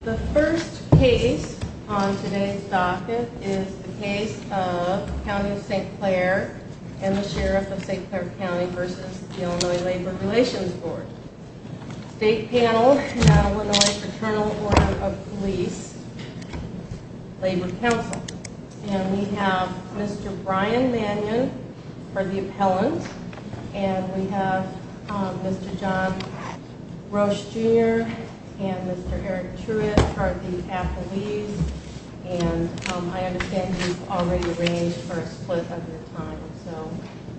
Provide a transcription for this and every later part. The first case on today's docket is the case of County of St. Clair and the Sheriff of St. Clair v. Ill. Labor Relations Board State Panel, Illinois Fraternal Order of Police, Labor Council We have Mr. Brian Mannion for the appellant. And we have Mr. John Roche Jr. and Mr. Eric Truitt for the affilies. And I understand you've already arranged for a split of your time, so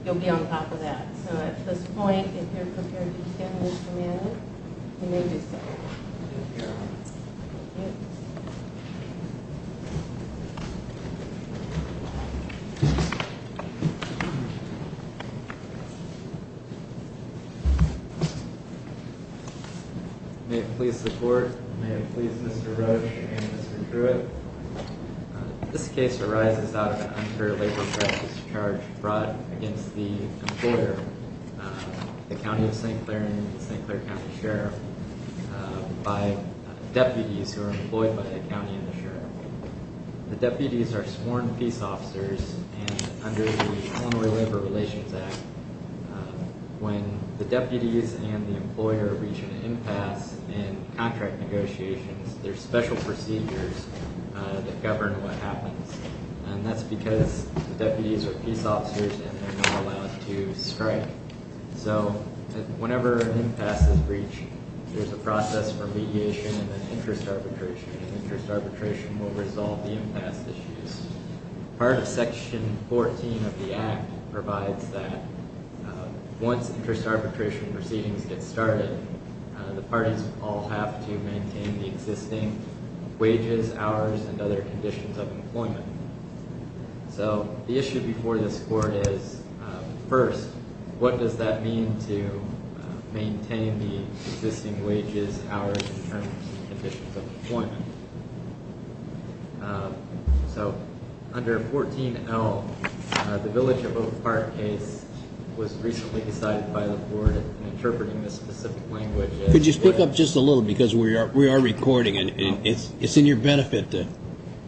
you'll be on top of that. So at this point, if you're prepared to extend Mr. Mannion, you may do so. State Panel, Illinois Fraternal Order of Police, Labor Council May it please the Court, and may it please Mr. Roche and Mr. Truitt. This case arises out of a Hunter labor practice charge brought against the employer, the County of St. Clair and the St. Clair County Sheriff, by deputies who are employed by the County and the Sheriff. The deputies are sworn peace officers, and under the Illinois Labor Relations Act, when the deputies and the employer reach an impasse in contract negotiations, there's special procedures that govern what happens. And that's because the deputies are peace officers and they're not allowed to strike. So whenever an impasse is reached, there's a process for mediation and interest arbitration, and interest arbitration will resolve the impasse issues. Part of Section 14 of the Act provides that once interest arbitration proceedings get started, the parties all have to maintain the existing wages, hours, and other conditions of employment. So the issue before this Court is, first, what does that mean to maintain the existing wages, hours, and terms and conditions of employment? So under 14L, the Village of Oak Park case was recently decided by the Court in interpreting this specific language. Could you speak up just a little, because we are recording, and it's in your benefit to-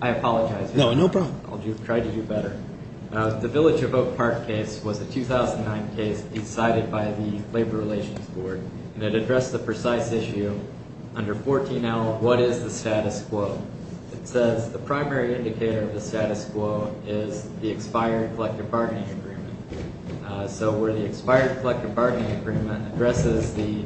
I apologize. No, no problem. I'll try to do better. The Village of Oak Park case was a 2009 case decided by the Labor Relations Board, and it addressed the precise issue. Under 14L, what is the status quo? It says the primary indicator of the status quo is the expired collective bargaining agreement. So where the expired collective bargaining agreement addresses the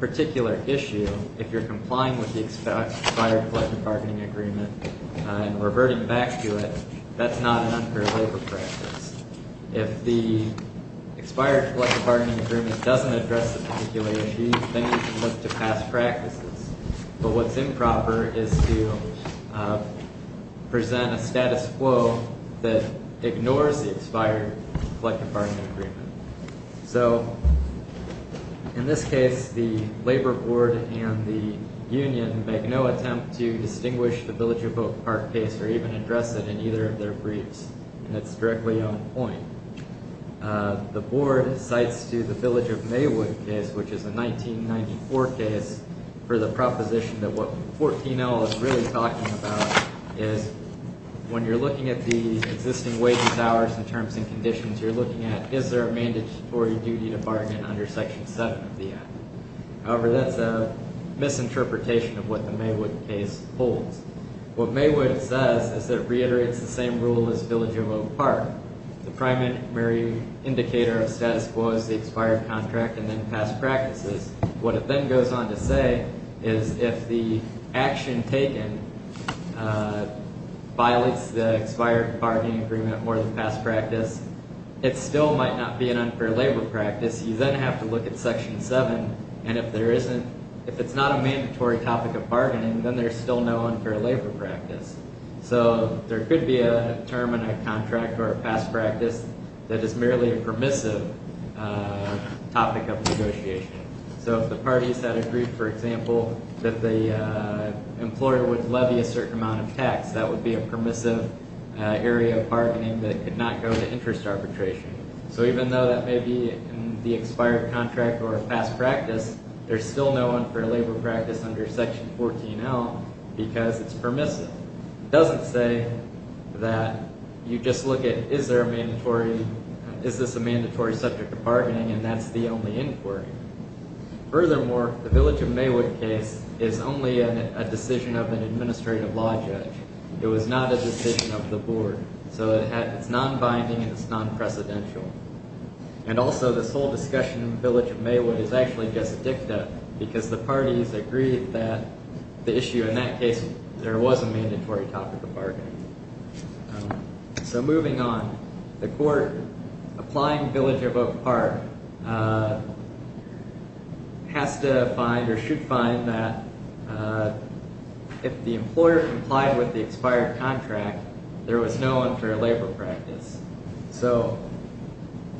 particular issue, if you're complying with the expired collective bargaining agreement and reverting back to it, that's not an unfair labor practice. If the expired collective bargaining agreement doesn't address the particular issue, then you can look to past practices. But what's improper is to present a status quo that ignores the expired collective bargaining agreement. So in this case, the Labor Board and the union make no attempt to distinguish the Village of Oak Park case or even address it in either of their briefs, and it's directly on point. The Board cites to the Village of Maywood case, which is a 1994 case, for the proposition that what 14L is really talking about is when you're looking at the existing wages, hours, and terms and conditions, you're looking at is there a mandatory duty to bargain under Section 7 of the Act. However, that's a misinterpretation of what the Maywood case holds. What Maywood says is it reiterates the same rule as Village of Oak Park. The primary indicator of status quo is the expired contract and then past practices. What it then goes on to say is if the action taken violates the expired bargaining agreement more than past practice, it still might not be an unfair labor practice. You then have to look at Section 7, and if it's not a mandatory topic of bargaining, then there's still no unfair labor practice. So there could be a term in a contract or a past practice that is merely a permissive topic of negotiation. So if the parties had agreed, for example, that the employer would levy a certain amount of tax, that would be a permissive area of bargaining that could not go to interest arbitration. So even though that may be in the expired contract or a past practice, there's still no unfair labor practice under Section 14L because it's permissive. It doesn't say that you just look at is this a mandatory subject of bargaining, and that's the only inquiry. Furthermore, the Village of Maywood case is only a decision of an administrative law judge. It was not a decision of the board, so it's non-binding and it's non-precedential. And also, this whole discussion of Village of Maywood is actually just dicta because the parties agreed that the issue in that case, there was a mandatory topic of bargaining. So moving on, the court applying Village of Oak Park has to find or should find that if the employer complied with the expired contract, there was no unfair labor practice. So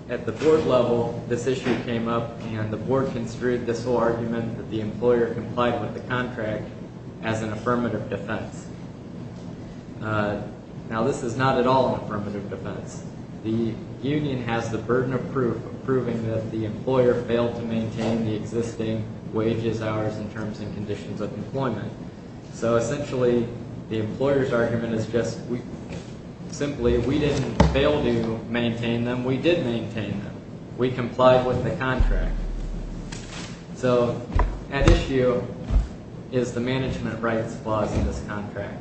at the board level, this issue came up and the board construed this whole argument that the employer complied with the contract as an affirmative defense. Now, this is not at all an affirmative defense. The union has the burden of proof proving that the employer failed to maintain the existing wages, hours, and terms and conditions of employment. So essentially, the employer's argument is just simply we didn't fail to maintain them. We did maintain them. We complied with the contract. So at issue is the management rights clause in this contract,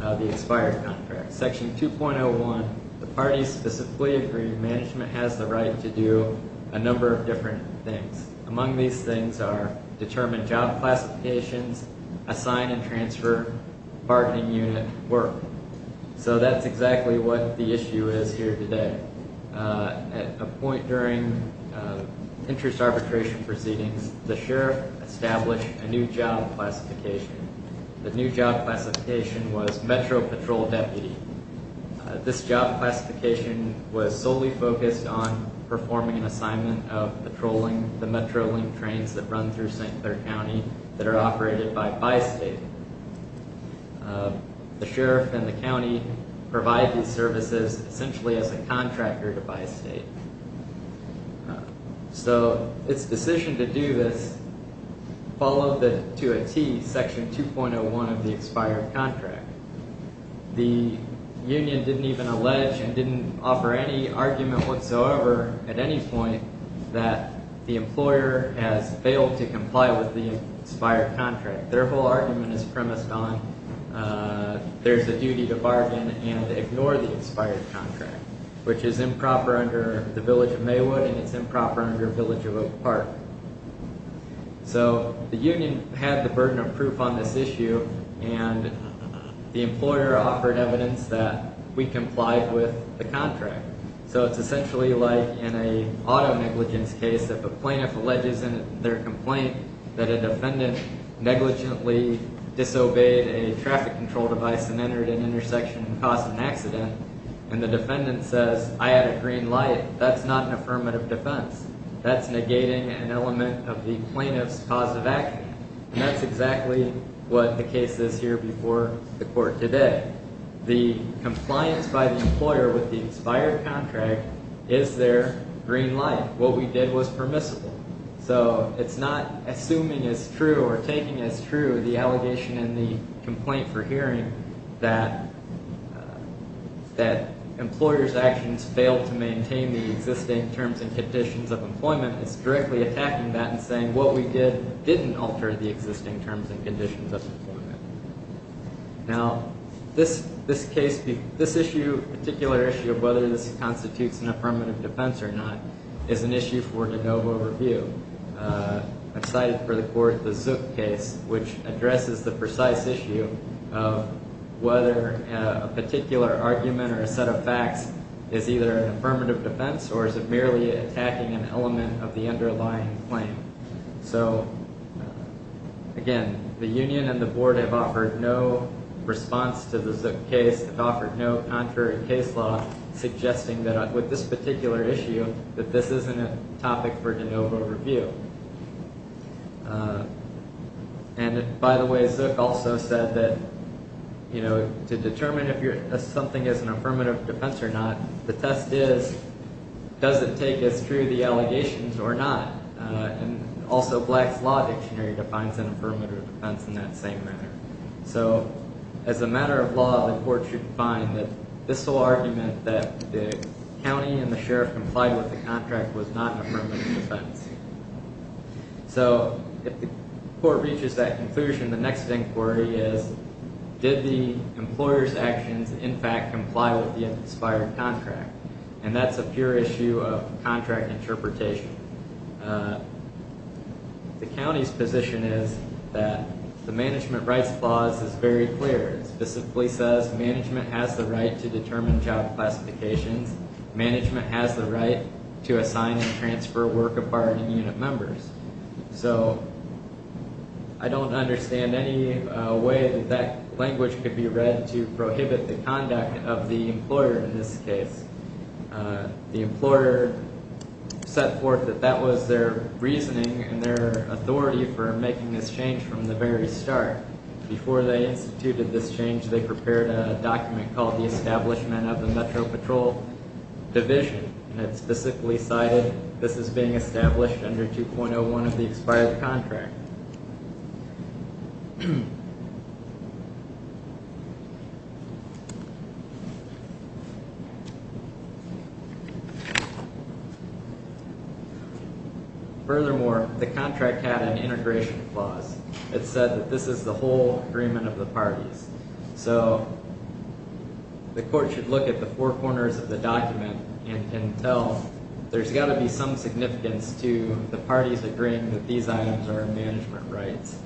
the expired contract. Section 2.01, the parties specifically agree management has the right to do a number of different things. Among these things are determine job classifications, assign and transfer bargaining unit work. So that's exactly what the issue is here today. At a point during interest arbitration proceedings, the sheriff established a new job classification. The new job classification was Metro Patrol Deputy. This job classification was solely focused on performing an assignment of patrolling the Metrolink trains that run through St. Clair County that are operated by Bi-State. The sheriff and the county provide these services essentially as a contractor to Bi-State. So its decision to do this followed to a tee Section 2.01 of the expired contract. The union didn't even allege and didn't offer any argument whatsoever at any point that the employer has failed to comply with the expired contract. Their whole argument is premised on there's a duty to bargain and ignore the expired contract, which is improper under the village of Maywood and it's improper under village of Oak Park. So the union had the burden of proof on this issue and the employer offered evidence that we complied with the contract. So it's essentially like in an auto negligence case, if a plaintiff alleges in their complaint that a defendant negligently disobeyed a traffic control device and entered an intersection and caused an accident, and the defendant says, I had a green light, that's not an affirmative defense. That's negating an element of the plaintiff's positive action. And that's exactly what the case is here before the court today. The compliance by the employer with the expired contract is their green light. What we did was permissible. So it's not assuming is true or taking as true the allegation in the complaint for hearing that employer's actions failed to maintain the existing terms and conditions of employment. It's directly attacking that and saying what we did didn't alter the existing terms and conditions of employment. Now, this particular issue of whether this constitutes an affirmative defense or not is an issue for the Dover review. I've cited for the court the Zook case, which addresses the precise issue of whether a particular argument or a set of facts is either an affirmative defense or is it merely attacking an element of the underlying claim. So, again, the union and the board have offered no response to the Zook case. They've offered no contrary case law suggesting that with this particular issue, that this isn't a topic for the Dover review. And, by the way, Zook also said that to determine if something is an affirmative defense or not, the test is does it take as true the allegations or not? And also Black's Law Dictionary defines an affirmative defense in that same manner. So, as a matter of law, the court should find that this will argument that the county and the sheriff complied with the contract was not an affirmative defense. So, if the court reaches that conclusion, the next inquiry is did the employer's actions, in fact, comply with the expired contract? And that's a pure issue of contract interpretation. The county's position is that the management rights clause is very clear. It specifically says management has the right to determine job classifications. Management has the right to assign and transfer work of bargaining unit members. So, I don't understand any way that that language could be read to prohibit the conduct of the employer in this case. The employer set forth that that was their reasoning and their authority for making this change from the very start. Before they instituted this change, they prepared a document called the Establishment of the Metro Patrol Division. And it specifically cited this as being established under 2.01 of the expired contract. Furthermore, the contract had an integration clause. It said that this is the whole agreement of the parties. So, the court should look at the four corners of the document and tell there's got to be some significance to the parties agreeing that these items are management rights.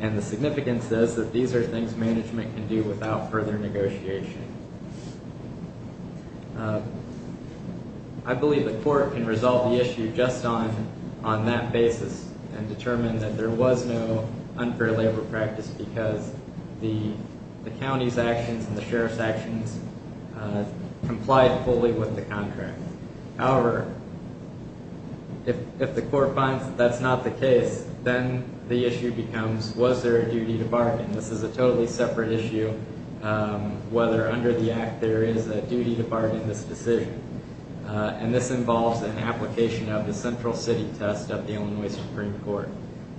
And the significance is that these are things management can do without further negotiation. I believe the court can resolve the issue just on that basis and determine that there was no unfair labor practice because the county's actions and the sheriff's actions complied fully with the contract. However, if the court finds that that's not the case, then the issue becomes was there a duty to bargain? This is a totally separate issue whether under the Act there is a duty to bargain in this decision. And this involves an application of the Central City Test of the Illinois Supreme Court. So,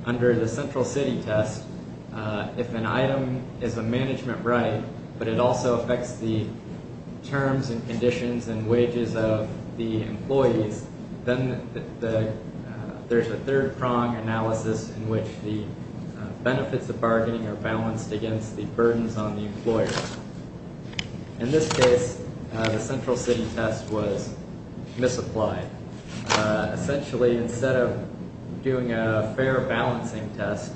under the Central City Test, if an item is a management right, but it also affects the terms and conditions and wages of the employees, then there's a third prong analysis in which the benefits of bargaining are balanced against the burdens on the employer. In this case, the Central City Test was misapplied. Essentially, instead of doing a fair balancing test,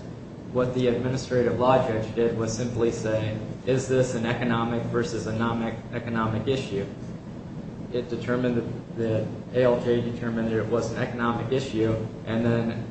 what the administrative law judge did was simply say, is this an economic versus a non-economic issue? It determined that ALJ determined it was an economic issue and then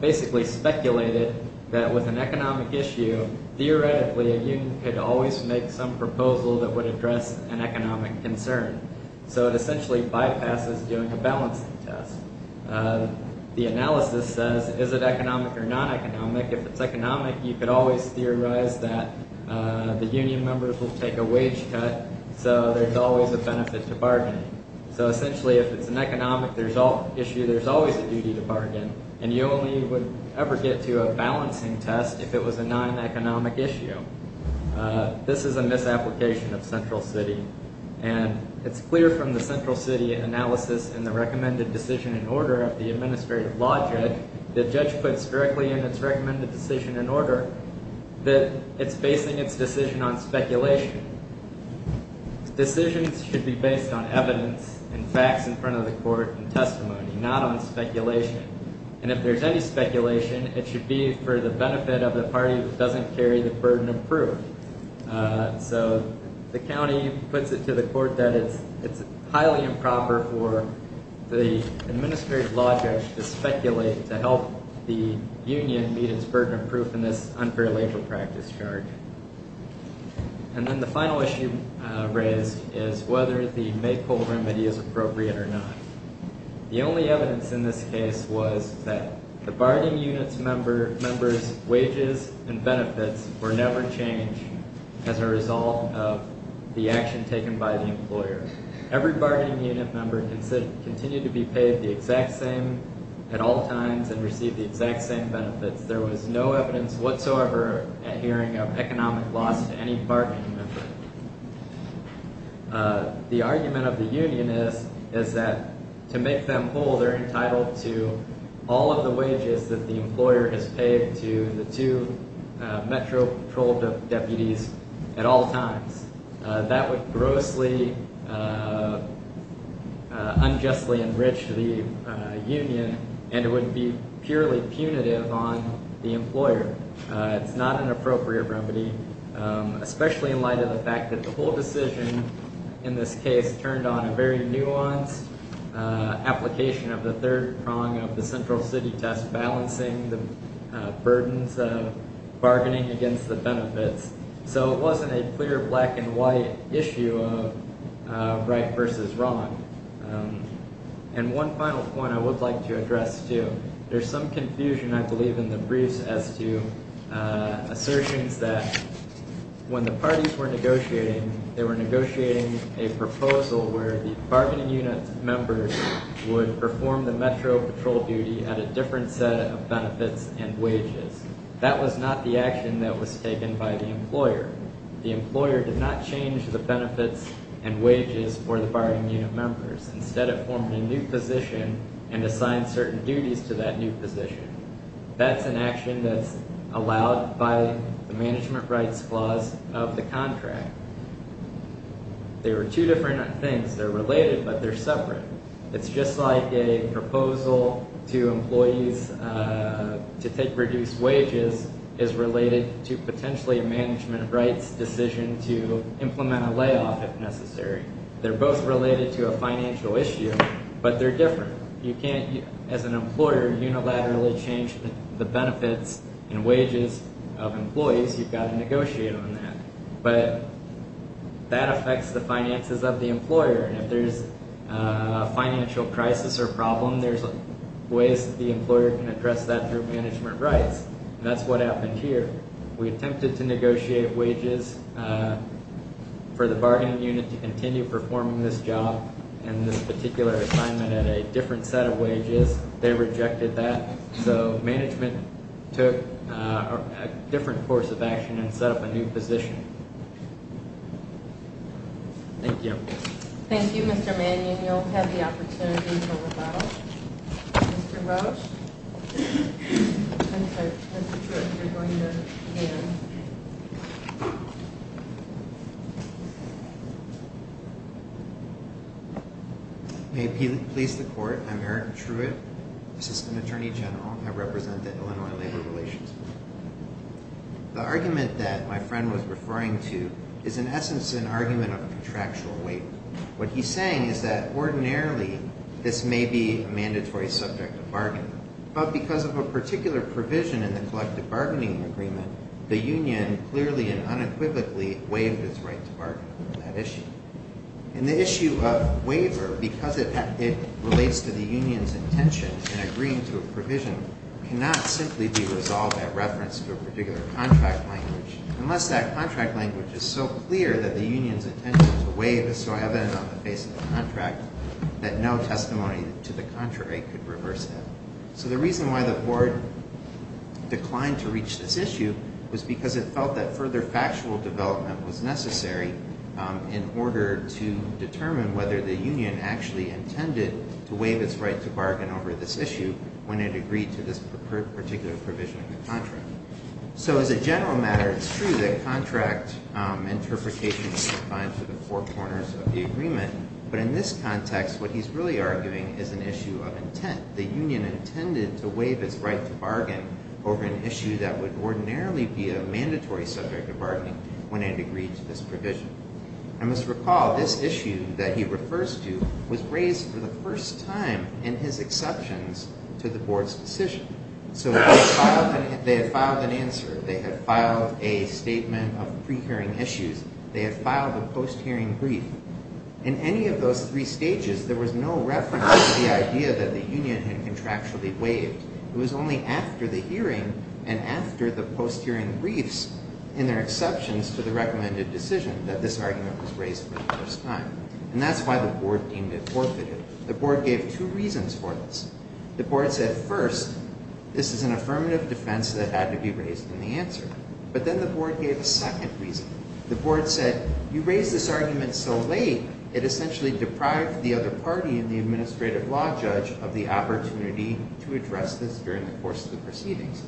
basically speculated that with an economic issue, theoretically, a union could always make some proposal that would address an economic concern. So, it essentially bypasses doing a balancing test. The analysis says, is it economic or non-economic? If it's economic, you could always theorize that the union members will take a wage cut, so there's always a benefit to bargaining. So, essentially, if it's an economic issue, there's always a duty to bargain, and you only would ever get to a balancing test if it was a non-economic issue. This is a misapplication of Central City, and it's clear from the Central City analysis and the recommended decision in order of the administrative law judge, the judge puts directly in its recommended decision in order that it's basing its decision on speculation. Decisions should be based on evidence and facts in front of the court and testimony, not on speculation. And if there's any speculation, it should be for the benefit of the party that doesn't carry the burden of proof. So, the county puts it to the court that it's highly improper for the administrative law judge to speculate to help the union meet its burden of proof in this unfair labor practice charge. And then the final issue raised is whether the Maypole remedy is appropriate or not. The only evidence in this case was that the bargaining unit member's wages and benefits were never changed as a result of the action taken by the employer. Every bargaining unit member continued to be paid the exact same at all times and received the exact same benefits. There was no evidence whatsoever at hearing of economic loss to any bargaining member. The argument of the union is that to make them whole, they're entitled to all of the wages that the employer has paid to the two metro patrol deputies at all times. That would grossly, unjustly enrich the union and it would be purely punitive on the employer. It's not an appropriate remedy, especially in light of the fact that the whole decision in this case turned on a very nuanced application of the third prong of the central city test, balancing the burdens of bargaining against the benefits. So, it wasn't a clear black and white issue of right versus wrong. And one final point I would like to address, too. There's some confusion, I believe, in the briefs as to assertions that when the parties were negotiating, they were negotiating a proposal where the bargaining unit members would perform the metro patrol duty at a different set of benefits and wages. That was not the action that was taken by the employer. The employer did not change the benefits and wages for the bargaining unit members. Instead, it formed a new position and assigned certain duties to that new position. That's an action that's allowed by the management rights clause of the contract. They were two different things. They're related, but they're separate. It's just like a proposal to employees to take reduced wages is related to potentially a management rights decision to implement a layoff, if necessary. They're both related to a financial issue, but they're different. You can't, as an employer, unilaterally change the benefits and wages of employees. You've got to negotiate on that. But that affects the finances of the employer. If there's a financial crisis or problem, there's ways that the employer can address that through management rights, and that's what happened here. We attempted to negotiate wages for the bargaining unit to continue performing this job and this particular assignment at a different set of wages. They rejected that, so management took a different course of action and set up a new position. Thank you. Thank you, Mr. Mannion. You'll have the opportunity to rebuttal. Mr. Roach, I'm sorry, Mr. Truitt, you're going to begin. May it please the Court, I'm Aaron Truitt, Assistant Attorney General. I represent the Illinois Labor Relations Board. The argument that my friend was referring to is, in essence, an argument of contractual waiver. What he's saying is that, ordinarily, this may be a mandatory subject of bargaining. But because of a particular provision in the collective bargaining agreement, the union clearly and unequivocally waived its right to bargain on that issue. And the issue of waiver, because it relates to the union's intention in agreeing to a provision, cannot simply be resolved at reference to a particular contract language, unless that contract language is so clear that the union's intention to waive is so evident on the face of the contract that no testimony to the contrary could reverse that. So the reason why the board declined to reach this issue was because it felt that further factual development was necessary in order to determine whether the union actually intended to waive its right to bargain over this issue when it agreed to this particular provision in the contract. So, as a general matter, it's true that contract interpretation is defined through the four corners of the agreement. But in this context, what he's really arguing is an issue of intent. The union intended to waive its right to bargain over an issue that would ordinarily be a mandatory subject of bargaining when it agreed to this provision. I must recall this issue that he refers to was raised for the first time in his exceptions to the board's decision. So they had filed an answer. They had filed a statement of pre-hearing issues. They had filed a post-hearing brief. In any of those three stages, there was no reference to the idea that the union had contractually waived. It was only after the hearing and after the post-hearing briefs in their exceptions to the recommended decision that this argument was raised for the first time. And that's why the board deemed it forfeited. The board gave two reasons for this. The board said, first, this is an affirmative defense that had to be raised in the answer. But then the board gave a second reason. The board said, you raised this argument so late, it essentially deprived the other party and the administrative law judge of the opportunity to address this during the course of the proceedings.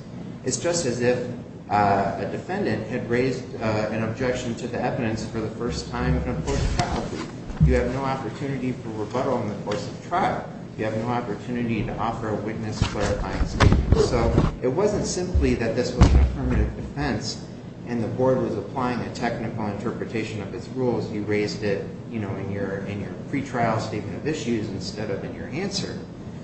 It's just as if a defendant had raised an objection to the evidence for the first time in a post-trial brief. You have no opportunity for rebuttal in the course of trial. You have no opportunity to offer a witness clarifying statement. So it wasn't simply that this was an affirmative defense and the board was applying a technical interpretation of its rules. You raised it in your pretrial statement of issues instead of in your answer.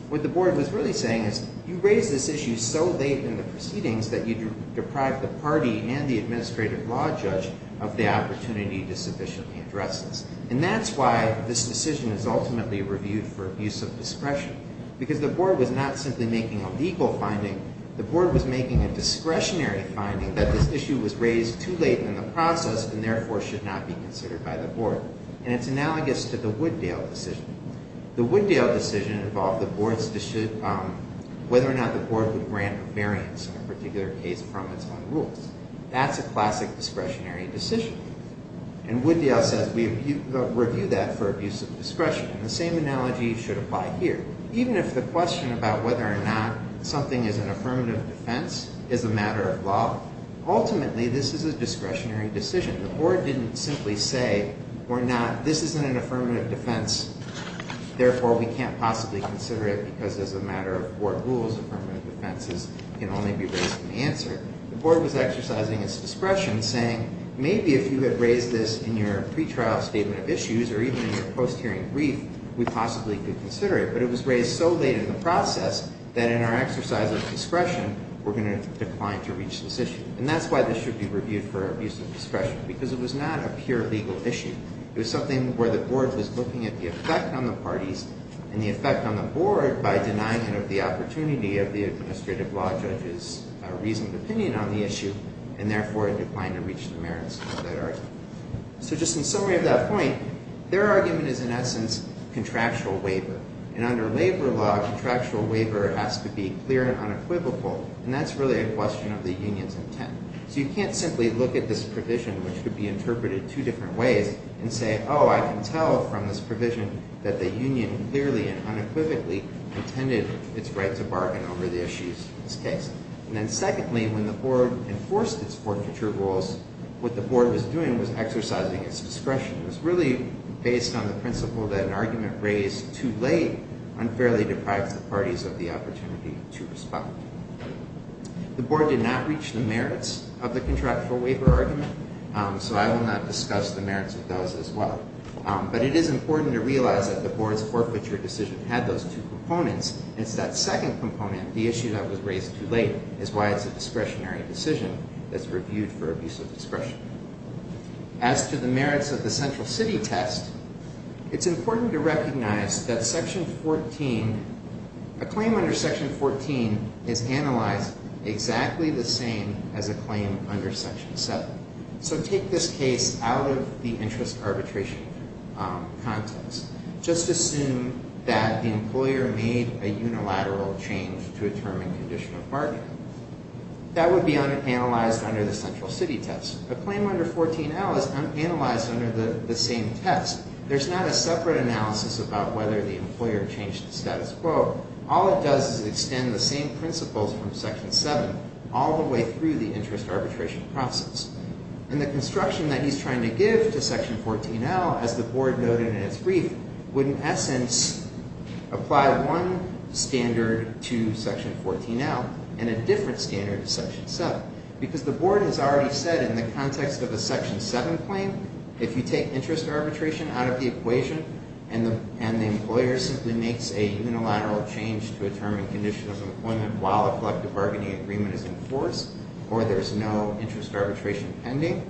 What the board was really saying is, you raised this issue so late in the proceedings that you deprived the party and the administrative law judge of the opportunity to sufficiently address this. And that's why this decision is ultimately reviewed for abuse of discretion, because the board was not simply making a legal finding. The board was making a discretionary finding that this issue was raised too late in the process and therefore should not be considered by the board. And it's analogous to the Wooddale decision. The Wooddale decision involved the board's decision whether or not the board would grant a variance in a particular case from its own rules. That's a classic discretionary decision. And Wooddale says we review that for abuse of discretion. And the same analogy should apply here. Even if the question about whether or not something is an affirmative defense is a matter of law, ultimately this is a discretionary decision. The board didn't simply say, we're not, this isn't an affirmative defense, therefore we can't possibly consider it because as a matter of board rules, affirmative defenses can only be raised in the answer. The board was exercising its discretion, saying maybe if you had raised this in your pretrial statement of issues or even in your post-hearing brief, we possibly could consider it. But it was raised so late in the process that in our exercise of discretion, we're going to decline to reach this issue. And that's why this should be reviewed for abuse of discretion, because it was not a pure legal issue. It was something where the board was looking at the effect on the parties and the effect on the board by denying it of the opportunity of the administrative law judge's reasoned opinion on the issue, and therefore it declined to reach the merits of that argument. So just in summary of that point, their argument is in essence contractual waiver. And under labor law, contractual waiver has to be clear and unequivocal, and that's really a question of the union's intent. So you can't simply look at this provision, which could be interpreted two different ways, and say, oh, I can tell from this provision that the union clearly and unequivocally intended its right to bargain over the issues in this case. And then secondly, when the board enforced its forfeiture rules, what the board was doing was exercising its discretion. It was really based on the principle that an argument raised too late unfairly deprives the parties of the opportunity to respond. The board did not reach the merits of the contractual waiver argument, so I will not discuss the merits of those as well. But it is important to realize that the board's forfeiture decision had those two components, and it's that second component, the issue that was raised too late, is why it's a discretionary decision that's reviewed for abuse of discretion. As to the merits of the central city test, it's important to recognize that section 14, a claim under section 14 is analyzed exactly the same as a claim under section 7. So take this case out of the interest arbitration context. Just assume that the employer made a unilateral change to a term and condition of bargaining. That would be unanalyzed under the central city test. A claim under 14L is unanalyzed under the same test. There's not a separate analysis about whether the employer changed the status quo. All it does is extend the same principles from section 7 all the way through the interest arbitration process. And the construction that he's trying to give to section 14L, as the board noted in its brief, would in essence apply one standard to section 14L and a different standard to section 7. Because the board has already said in the context of a section 7 claim, if you take interest arbitration out of the equation and the employer simply makes a unilateral change to a term and condition of employment while a collective bargaining agreement is in force, or there's no interest arbitration pending,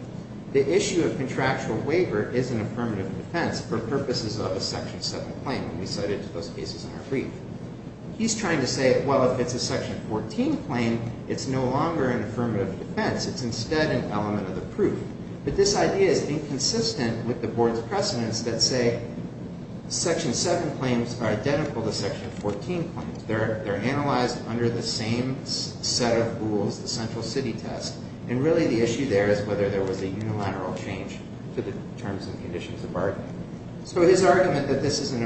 the issue of contractual waiver is an affirmative defense for purposes of a section 7 claim. And we cited those cases in our brief. He's trying to say, well, if it's a section 14 claim, it's no longer an affirmative defense. It's instead an element of the proof. But this idea is inconsistent with the board's precedents that say section 7 claims are identical to section 14 claims. They're analyzed under the same set of rules, the central city test. And really the issue there is whether there was a unilateral change to the terms and conditions of bargaining. So his argument that this is not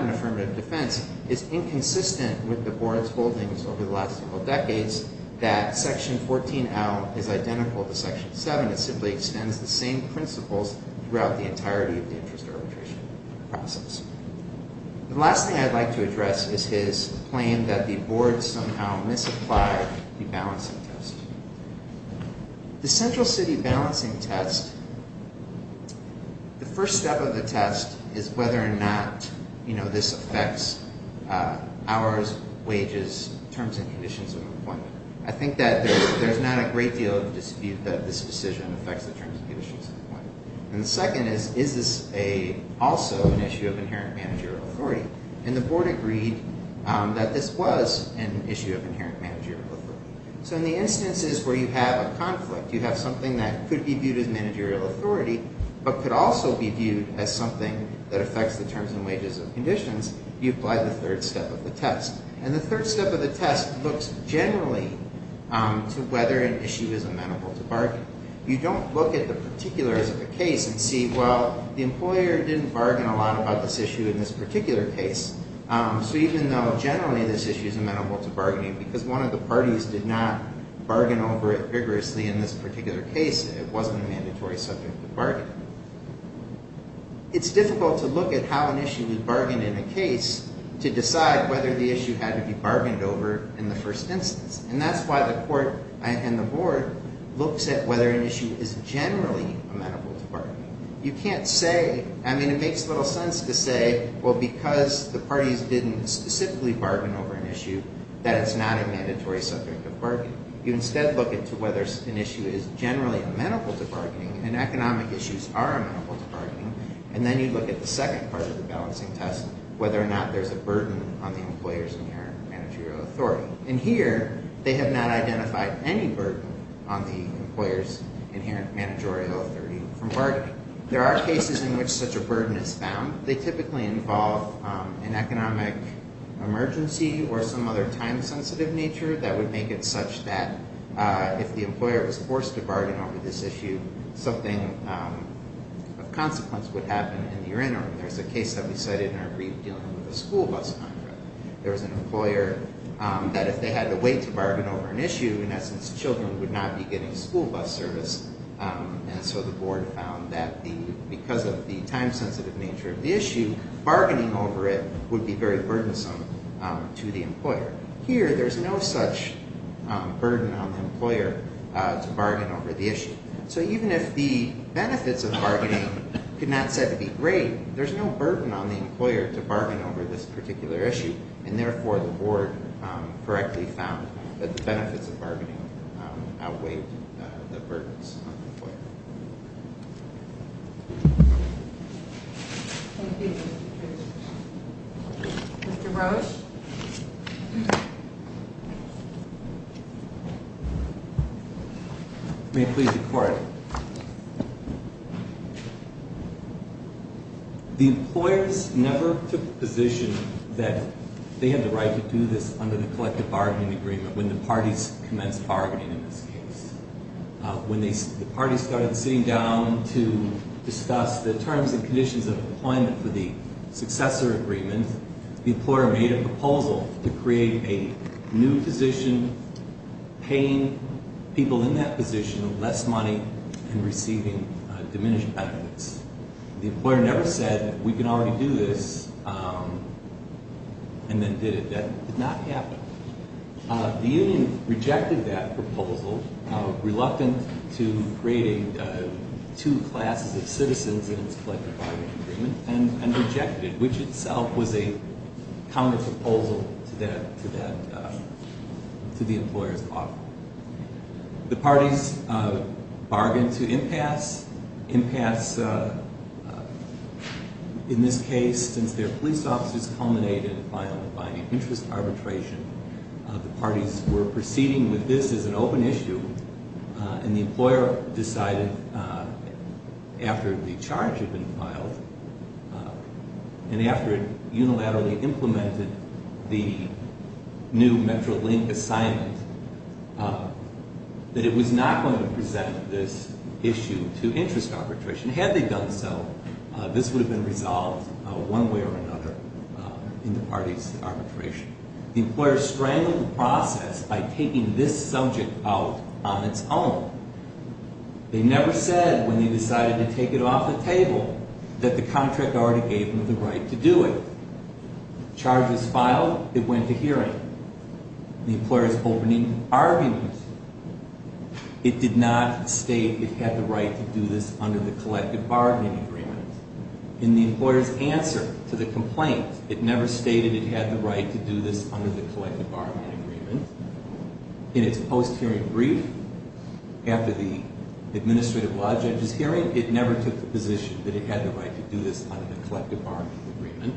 an affirmative defense is inconsistent with the board's holdings over the last several decades that section 14L is identical to section 7. It simply extends the same principles throughout the entirety of the interest arbitration process. The last thing I'd like to address is his claim that the board somehow misapplied the balancing test. The central city balancing test, the first step of the test is whether or not, you know, this affects hours, wages, terms and conditions of employment. I think that there's not a great deal of dispute that this decision affects the terms and conditions of employment. And the second is, is this also an issue of inherent managerial authority? And the board agreed that this was an issue of inherent managerial authority. So in the instances where you have a conflict, you have something that could be viewed as managerial authority, but could also be viewed as something that affects the terms and wages of conditions, you apply the third step of the test. And the third step of the test looks generally to whether an issue is amenable to bargaining. You don't look at the particulars of the case and see, well, the employer didn't bargain a lot about this issue in this particular case. So even though generally this issue is amenable to bargaining, because one of the parties did not bargain over it vigorously in this particular case, it wasn't a mandatory subject of bargaining. It's difficult to look at how an issue is bargained in a case to decide whether the issue had to be bargained over in the first instance. And that's why the court and the board looks at whether an issue is generally amenable to bargaining. You can't say, I mean, it makes little sense to say, well, because the parties didn't specifically bargain over an issue, that it's not a mandatory subject of bargaining. You instead look into whether an issue is generally amenable to bargaining, and economic issues are amenable to bargaining. And then you look at the second part of the balancing test, whether or not there's a burden on the employer's inherent managerial authority. And here, they have not identified any burden on the employer's inherent managerial authority from bargaining. There are cases in which such a burden is found. They typically involve an economic emergency or some other time-sensitive nature that would make it such that if the employer was forced to bargain over this issue, something of consequence would happen in the interim. There's a case that we cited in our brief dealing with the school bus contract. There was an employer that if they had to wait to bargain over an issue, in essence, children would not be getting school bus service. And so the board found that because of the time-sensitive nature of the issue, bargaining over it would be very burdensome to the employer. Here, there's no such burden on the employer to bargain over the issue. So even if the benefits of bargaining could not be said to be great, there's no burden on the employer to bargain over this particular issue. And therefore, the board correctly found that the benefits of bargaining outweighed the burdens on the employer. Mr. Rose? May it please the Court. The employers never took the position that they had the right to do this under the collective bargaining agreement when the parties commenced bargaining in this case. When the parties started sitting down to discuss the terms and conditions of employment for the successor agreement, the employer made a proposal to create a new position, paying people in that position less money and receiving diminished benefits. The employer never said, we can already do this, and then did it. That did not happen. The union rejected that proposal, reluctant to creating two classes of citizens in its collective bargaining agreement, and rejected it, which itself was a counterproposal to the employer's offer. The parties bargained to impasse. Impasse, in this case, since their police officers culminated in filing a binding interest arbitration, the parties were proceeding with this as an open issue, and the employer decided after the charge had been filed, and after it unilaterally implemented the new Metrolink assignment, that it was not going to present this issue to interest arbitration. Had they done so, this would have been resolved one way or another in the party's arbitration. The employer strangled the process by taking this subject out on its own. They never said, when they decided to take it off the table, that the contract already gave them the right to do it. Charge was filed, it went to hearing. The employer's opening argument, it did not state it had the right to do this under the collective bargaining agreement. In the employer's answer to the complaint, it never stated it had the right to do this under the collective bargaining agreement. In its post-hearing brief, after the administrative law judge's hearing, it never took the position that it had the right to do this under the collective bargaining agreement.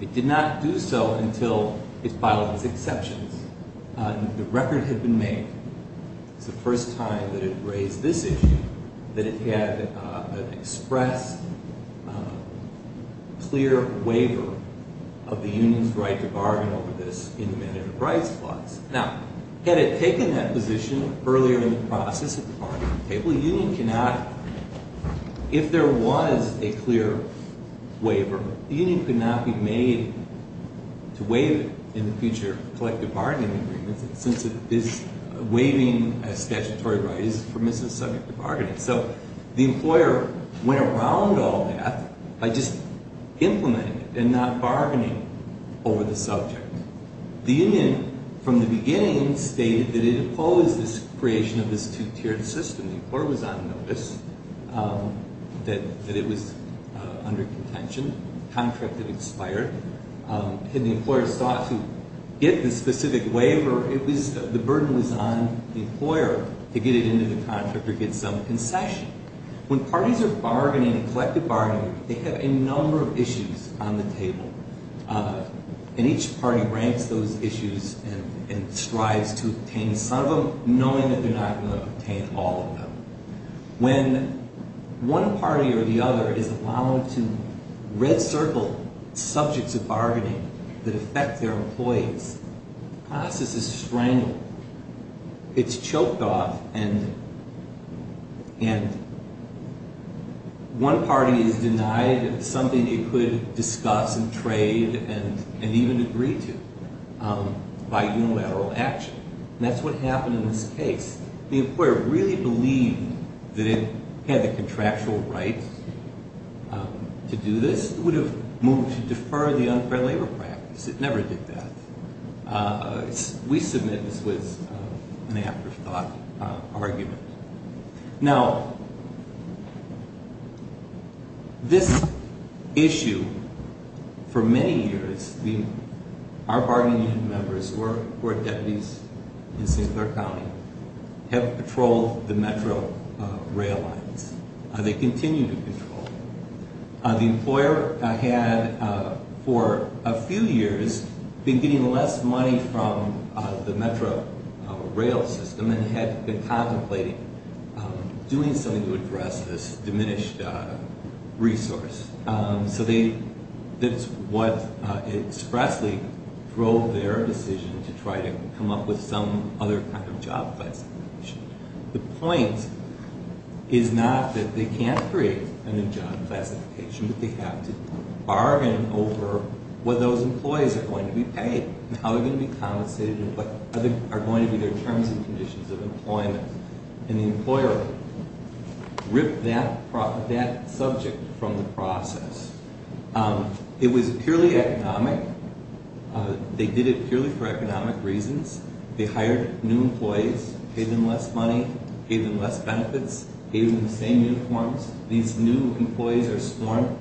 It did not do so until it filed its exceptions. The record had been made, it was the first time that it raised this issue, that it had an expressed, clear waiver of the union's right to bargain over this in the Mandatory Rights Clause. Now, had it taken that position earlier in the process of the bargaining table, the union could not, if there was a clear waiver, the union could not be made to waive it in the future collective bargaining agreement, since waiving a statutory right is a permissive subject to bargaining. So the employer went around all that by just implementing it and not bargaining over the subject. The union, from the beginning, stated that it opposed this creation of this two-tiered system. The employer was on notice that it was under contention. The contract had expired. Had the employer sought to get the specific waiver, the burden was on the employer to get it into the contract or get some concession. When parties are bargaining, collective bargaining, they have a number of issues on the table, and each party ranks those issues and strives to obtain some of them, knowing that they're not going to obtain all of them. When one party or the other is allowed to red circle subjects of bargaining that affect their employees, the process is strangled. It's choked off, and one party is denied something they could discuss and trade and even agree to by unilateral action. And that's what happened in this case. The employer really believed that it had the contractual right to do this. It would have moved to defer the unfair labor practice. It never did that. We submit this was an afterthought argument. Now, this issue, for many years, our bargaining unit members who are deputies in St. Clair County have patrolled the metro rail lines. They continue to patrol. The employer had, for a few years, been getting less money from the metro rail system and had been contemplating doing something to address this diminished resource. So that's what expressly drove their decision to try to come up with some other kind of job classification. The point is not that they can't create a new job classification, but they have to bargain over what those employees are going to be paid and how they're going to be compensated and what are going to be their terms and conditions of employment. And the employer ripped that subject from the process. It was purely economic. They did it purely for economic reasons. They hired new employees, paid them less money, paid them less benefits, paid them the same uniforms. These new employees are sworn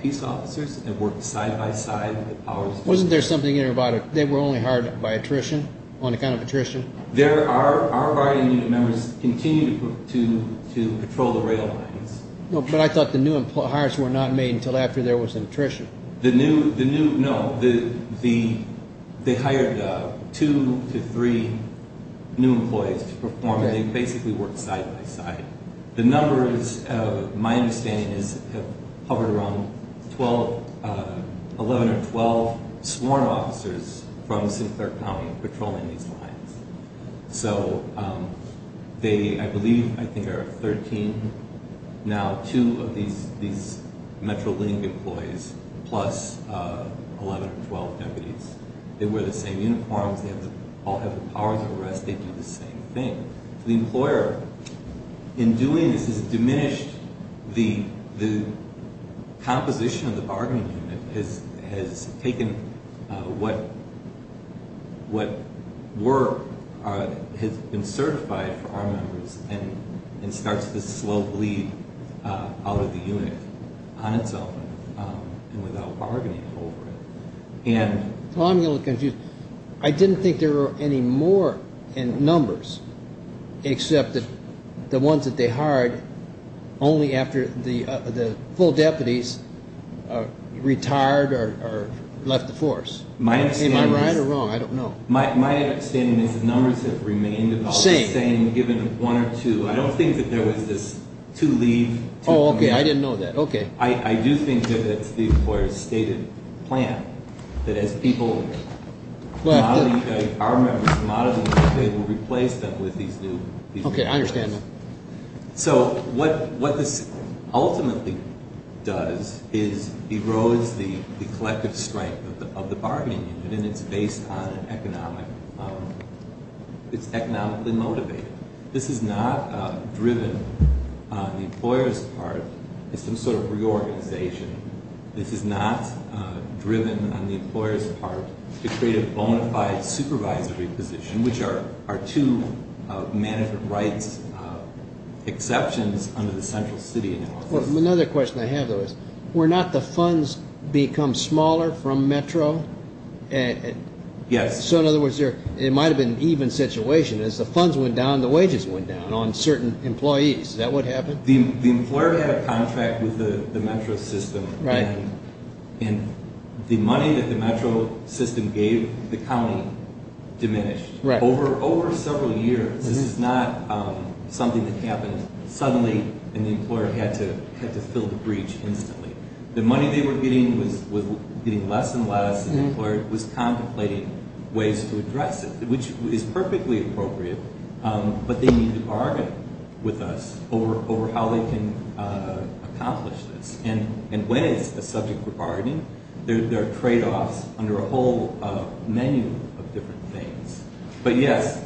peace officers and work side by side with the powers vested in them. Wasn't there something in there about they were only hired by attrition, on account of attrition? Our bargaining unit members continue to patrol the rail lines. But I thought the new hires were not made until after there was an attrition. No, they hired two to three new employees to perform, and they basically worked side by side. The numbers, my understanding is, have hovered around 11 or 12 sworn officers from Sinclair County patrolling these lines. So they, I believe, I think there are 13 now, two of these Metrolink employees, plus 11 or 12 deputies. They wear the same uniforms, they all have the powers of arrest, they do the same thing. The employer, in doing this, has diminished the composition of the bargaining unit, has taken what work has been certified for our members and starts to slow bleed out of the unit on its own and without bargaining over it. Well, I'm a little confused. I didn't think there were any more in numbers, except the ones that they hired only after the full deputies retired or left the force. Am I right or wrong? I don't know. My understanding is the numbers have remained about the same, given one or two. I don't think that there was this two leave. Oh, okay. I didn't know that. Okay. I do think that it's the employer's stated plan, that as people, our members come out of the unit, they will replace them with these new deputies. Okay, I understand that. So what this ultimately does is erodes the collective strength of the bargaining unit, and it's based on an economic, it's economically motivated. This is not driven on the employer's part. It's some sort of reorganization. This is not driven on the employer's part to create a bona fide supervisory position, which are two management rights exceptions under the central city. Another question I have, though, is were not the funds become smaller from Metro? Yes. So in other words, it might have been an even situation. As the funds went down, the wages went down on certain employees. Is that what happened? The employer had a contract with the Metro system, and the money that the Metro system gave the county diminished. Right. Over several years, this is not something that happened suddenly, and the employer had to fill the breach instantly. The money they were getting was getting less and less, and the employer was contemplating ways to address it, which is perfectly appropriate, but they need to bargain with us over how they can accomplish this. And when it's a subject for bargaining, there are tradeoffs under a whole menu of different things. But yes,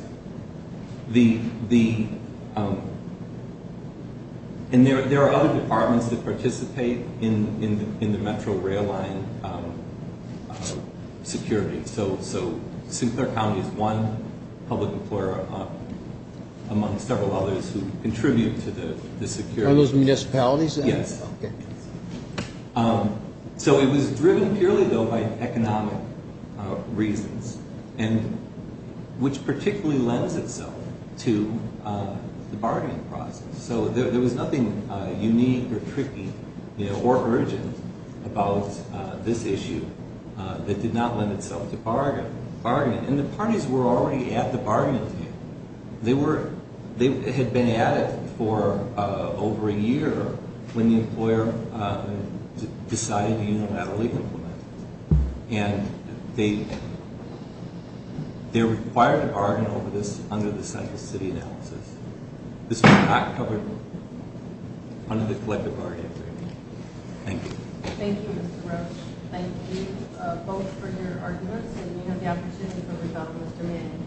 and there are other departments that participate in the Metro rail line security, so Sinclair County is one public employer among several others who contribute to the security. Are those municipalities? Yes. Okay. So it was driven purely, though, by economic reasons, which particularly lends itself to the bargaining process. So there was nothing unique or tricky or urgent about this issue that did not lend itself to bargaining. And the parties were already at the bargaining table. They had been at it for over a year when the employer decided to unilaterally implement it. And they're required to bargain over this under the cycle city analysis. This was not covered under the collective bargaining agreement. Thank you. Thank you, Mr. Roach. Thank you both for your arguments, and you have the opportunity to bring up Mr. Manning.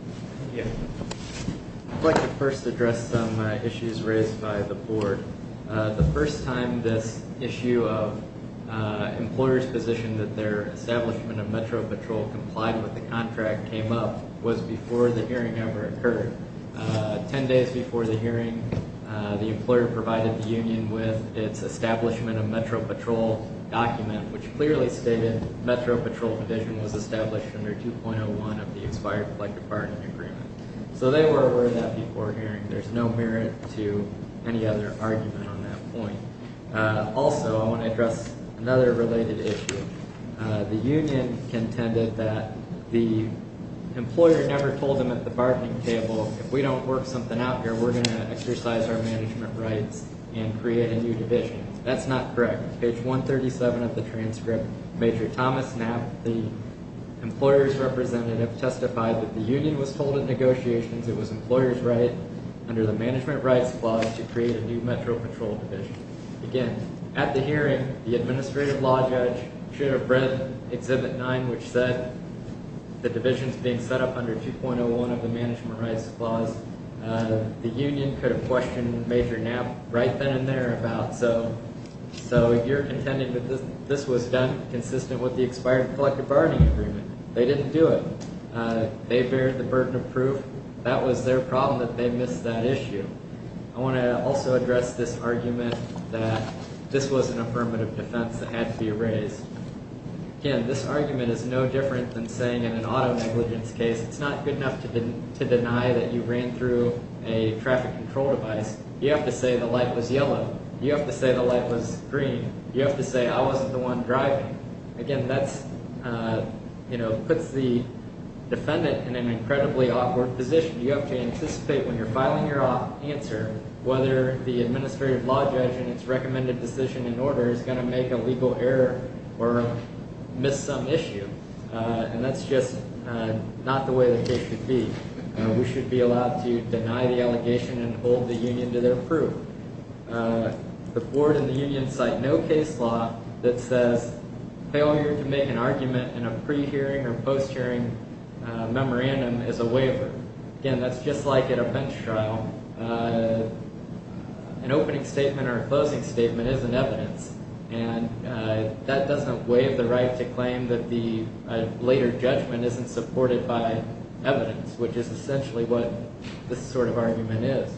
Thank you. I'd like to first address some issues raised by the board. The first time this issue of employers' position that their establishment of Metro Patrol complied with the contract came up was before the hearing ever occurred. Ten days before the hearing, the employer provided the union with its establishment of Metro Patrol document, which clearly stated Metro Patrol provision was established under 2.01 of the expired collective bargaining agreement. So they were aware of that before hearing. There's no merit to any other argument on that point. Also, I want to address another related issue. The union contended that the employer never told them at the bargaining table, if we don't work something out here, we're going to exercise our management rights and create a new division. That's not correct. Page 137 of the transcript, Major Thomas Knapp, the employer's representative, testified that the union was told in negotiations it was employers' right, under the management rights clause, to create a new Metro Patrol division. Again, at the hearing, the administrative law judge should have read Exhibit 9, which said the division's being set up under 2.01 of the management rights clause. The union could have questioned Major Knapp right then and there about, so you're contending that this was done consistent with the expired collective bargaining agreement. They didn't do it. They bear the burden of proof. That was their problem that they missed that issue. I want to also address this argument that this wasn't a permit of defense that had to be raised. Again, this argument is no different than saying in an auto negligence case, it's not good enough to deny that you ran through a traffic control device. You have to say the light was yellow. You have to say the light was green. You have to say I wasn't the one driving. Again, that puts the defendant in an incredibly awkward position. You have to anticipate when you're filing your answer whether the administrative law judge and its recommended decision in order is going to make a legal error or miss some issue, and that's just not the way the case should be. We should be allowed to deny the allegation and hold the union to their proof. The board and the union cite no case law that says failure to make an argument in a pre-hearing or post-hearing memorandum is a waiver. Again, that's just like in a bench trial. An opening statement or a closing statement isn't evidence, and that doesn't waive the right to claim that the later judgment isn't supported by evidence, which is essentially what this sort of argument is.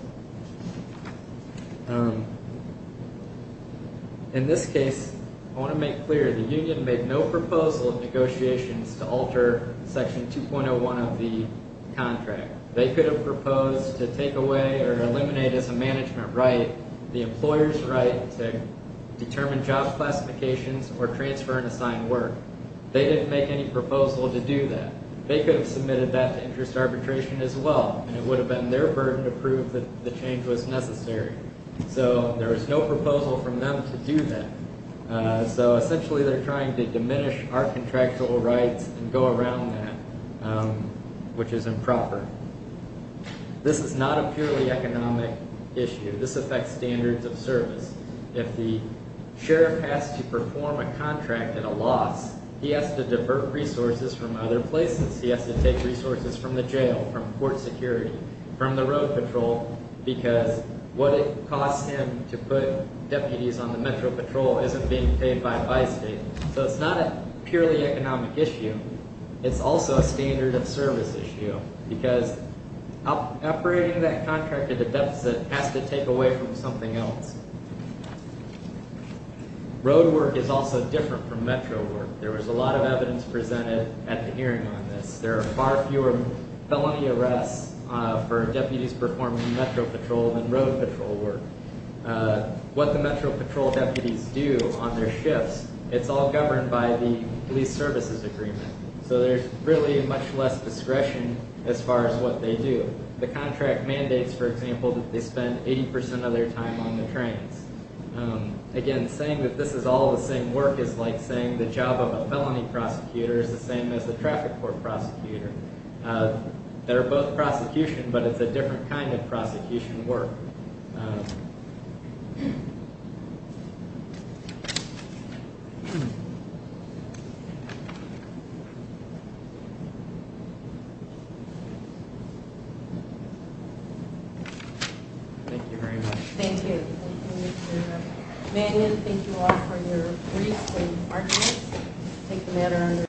In this case, I want to make clear the union made no proposal in negotiations to alter Section 2.01 of the contract. They could have proposed to take away or eliminate as a management right the employer's right to determine job classifications or transfer and assign work. They didn't make any proposal to do that. They could have submitted that to interest arbitration as well, and it would have been their burden to prove that the change was necessary. So there was no proposal from them to do that. So essentially they're trying to diminish our contractual rights and go around that, which is improper. This is not a purely economic issue. This affects standards of service. If the sheriff has to perform a contract at a loss, he has to divert resources from other places. He has to take resources from the jail, from court security, from the road patrol, because what it costs him to put deputies on the metro patrol isn't being paid by Bi-State. So it's not a purely economic issue. It's also a standard of service issue, because operating that contract at a deficit has to take away from something else. Road work is also different from metro work. There was a lot of evidence presented at the hearing on this. There are far fewer felony arrests for deputies performing metro patrol than road patrol work. What the metro patrol deputies do on their shifts, it's all governed by the police services agreement. So there's really much less discretion as far as what they do. The contract mandates, for example, that they spend 80% of their time on the trains. Again, saying that this is all the same work is like saying the job of a felony prosecutor is the same as the traffic court prosecutor. They're both prosecution, but it's a different kind of prosecution work. Thank you very much. Thank you. Thank you, Mr. Mannion. Thank you all for your briefs and arguments. We'll take the matter under review.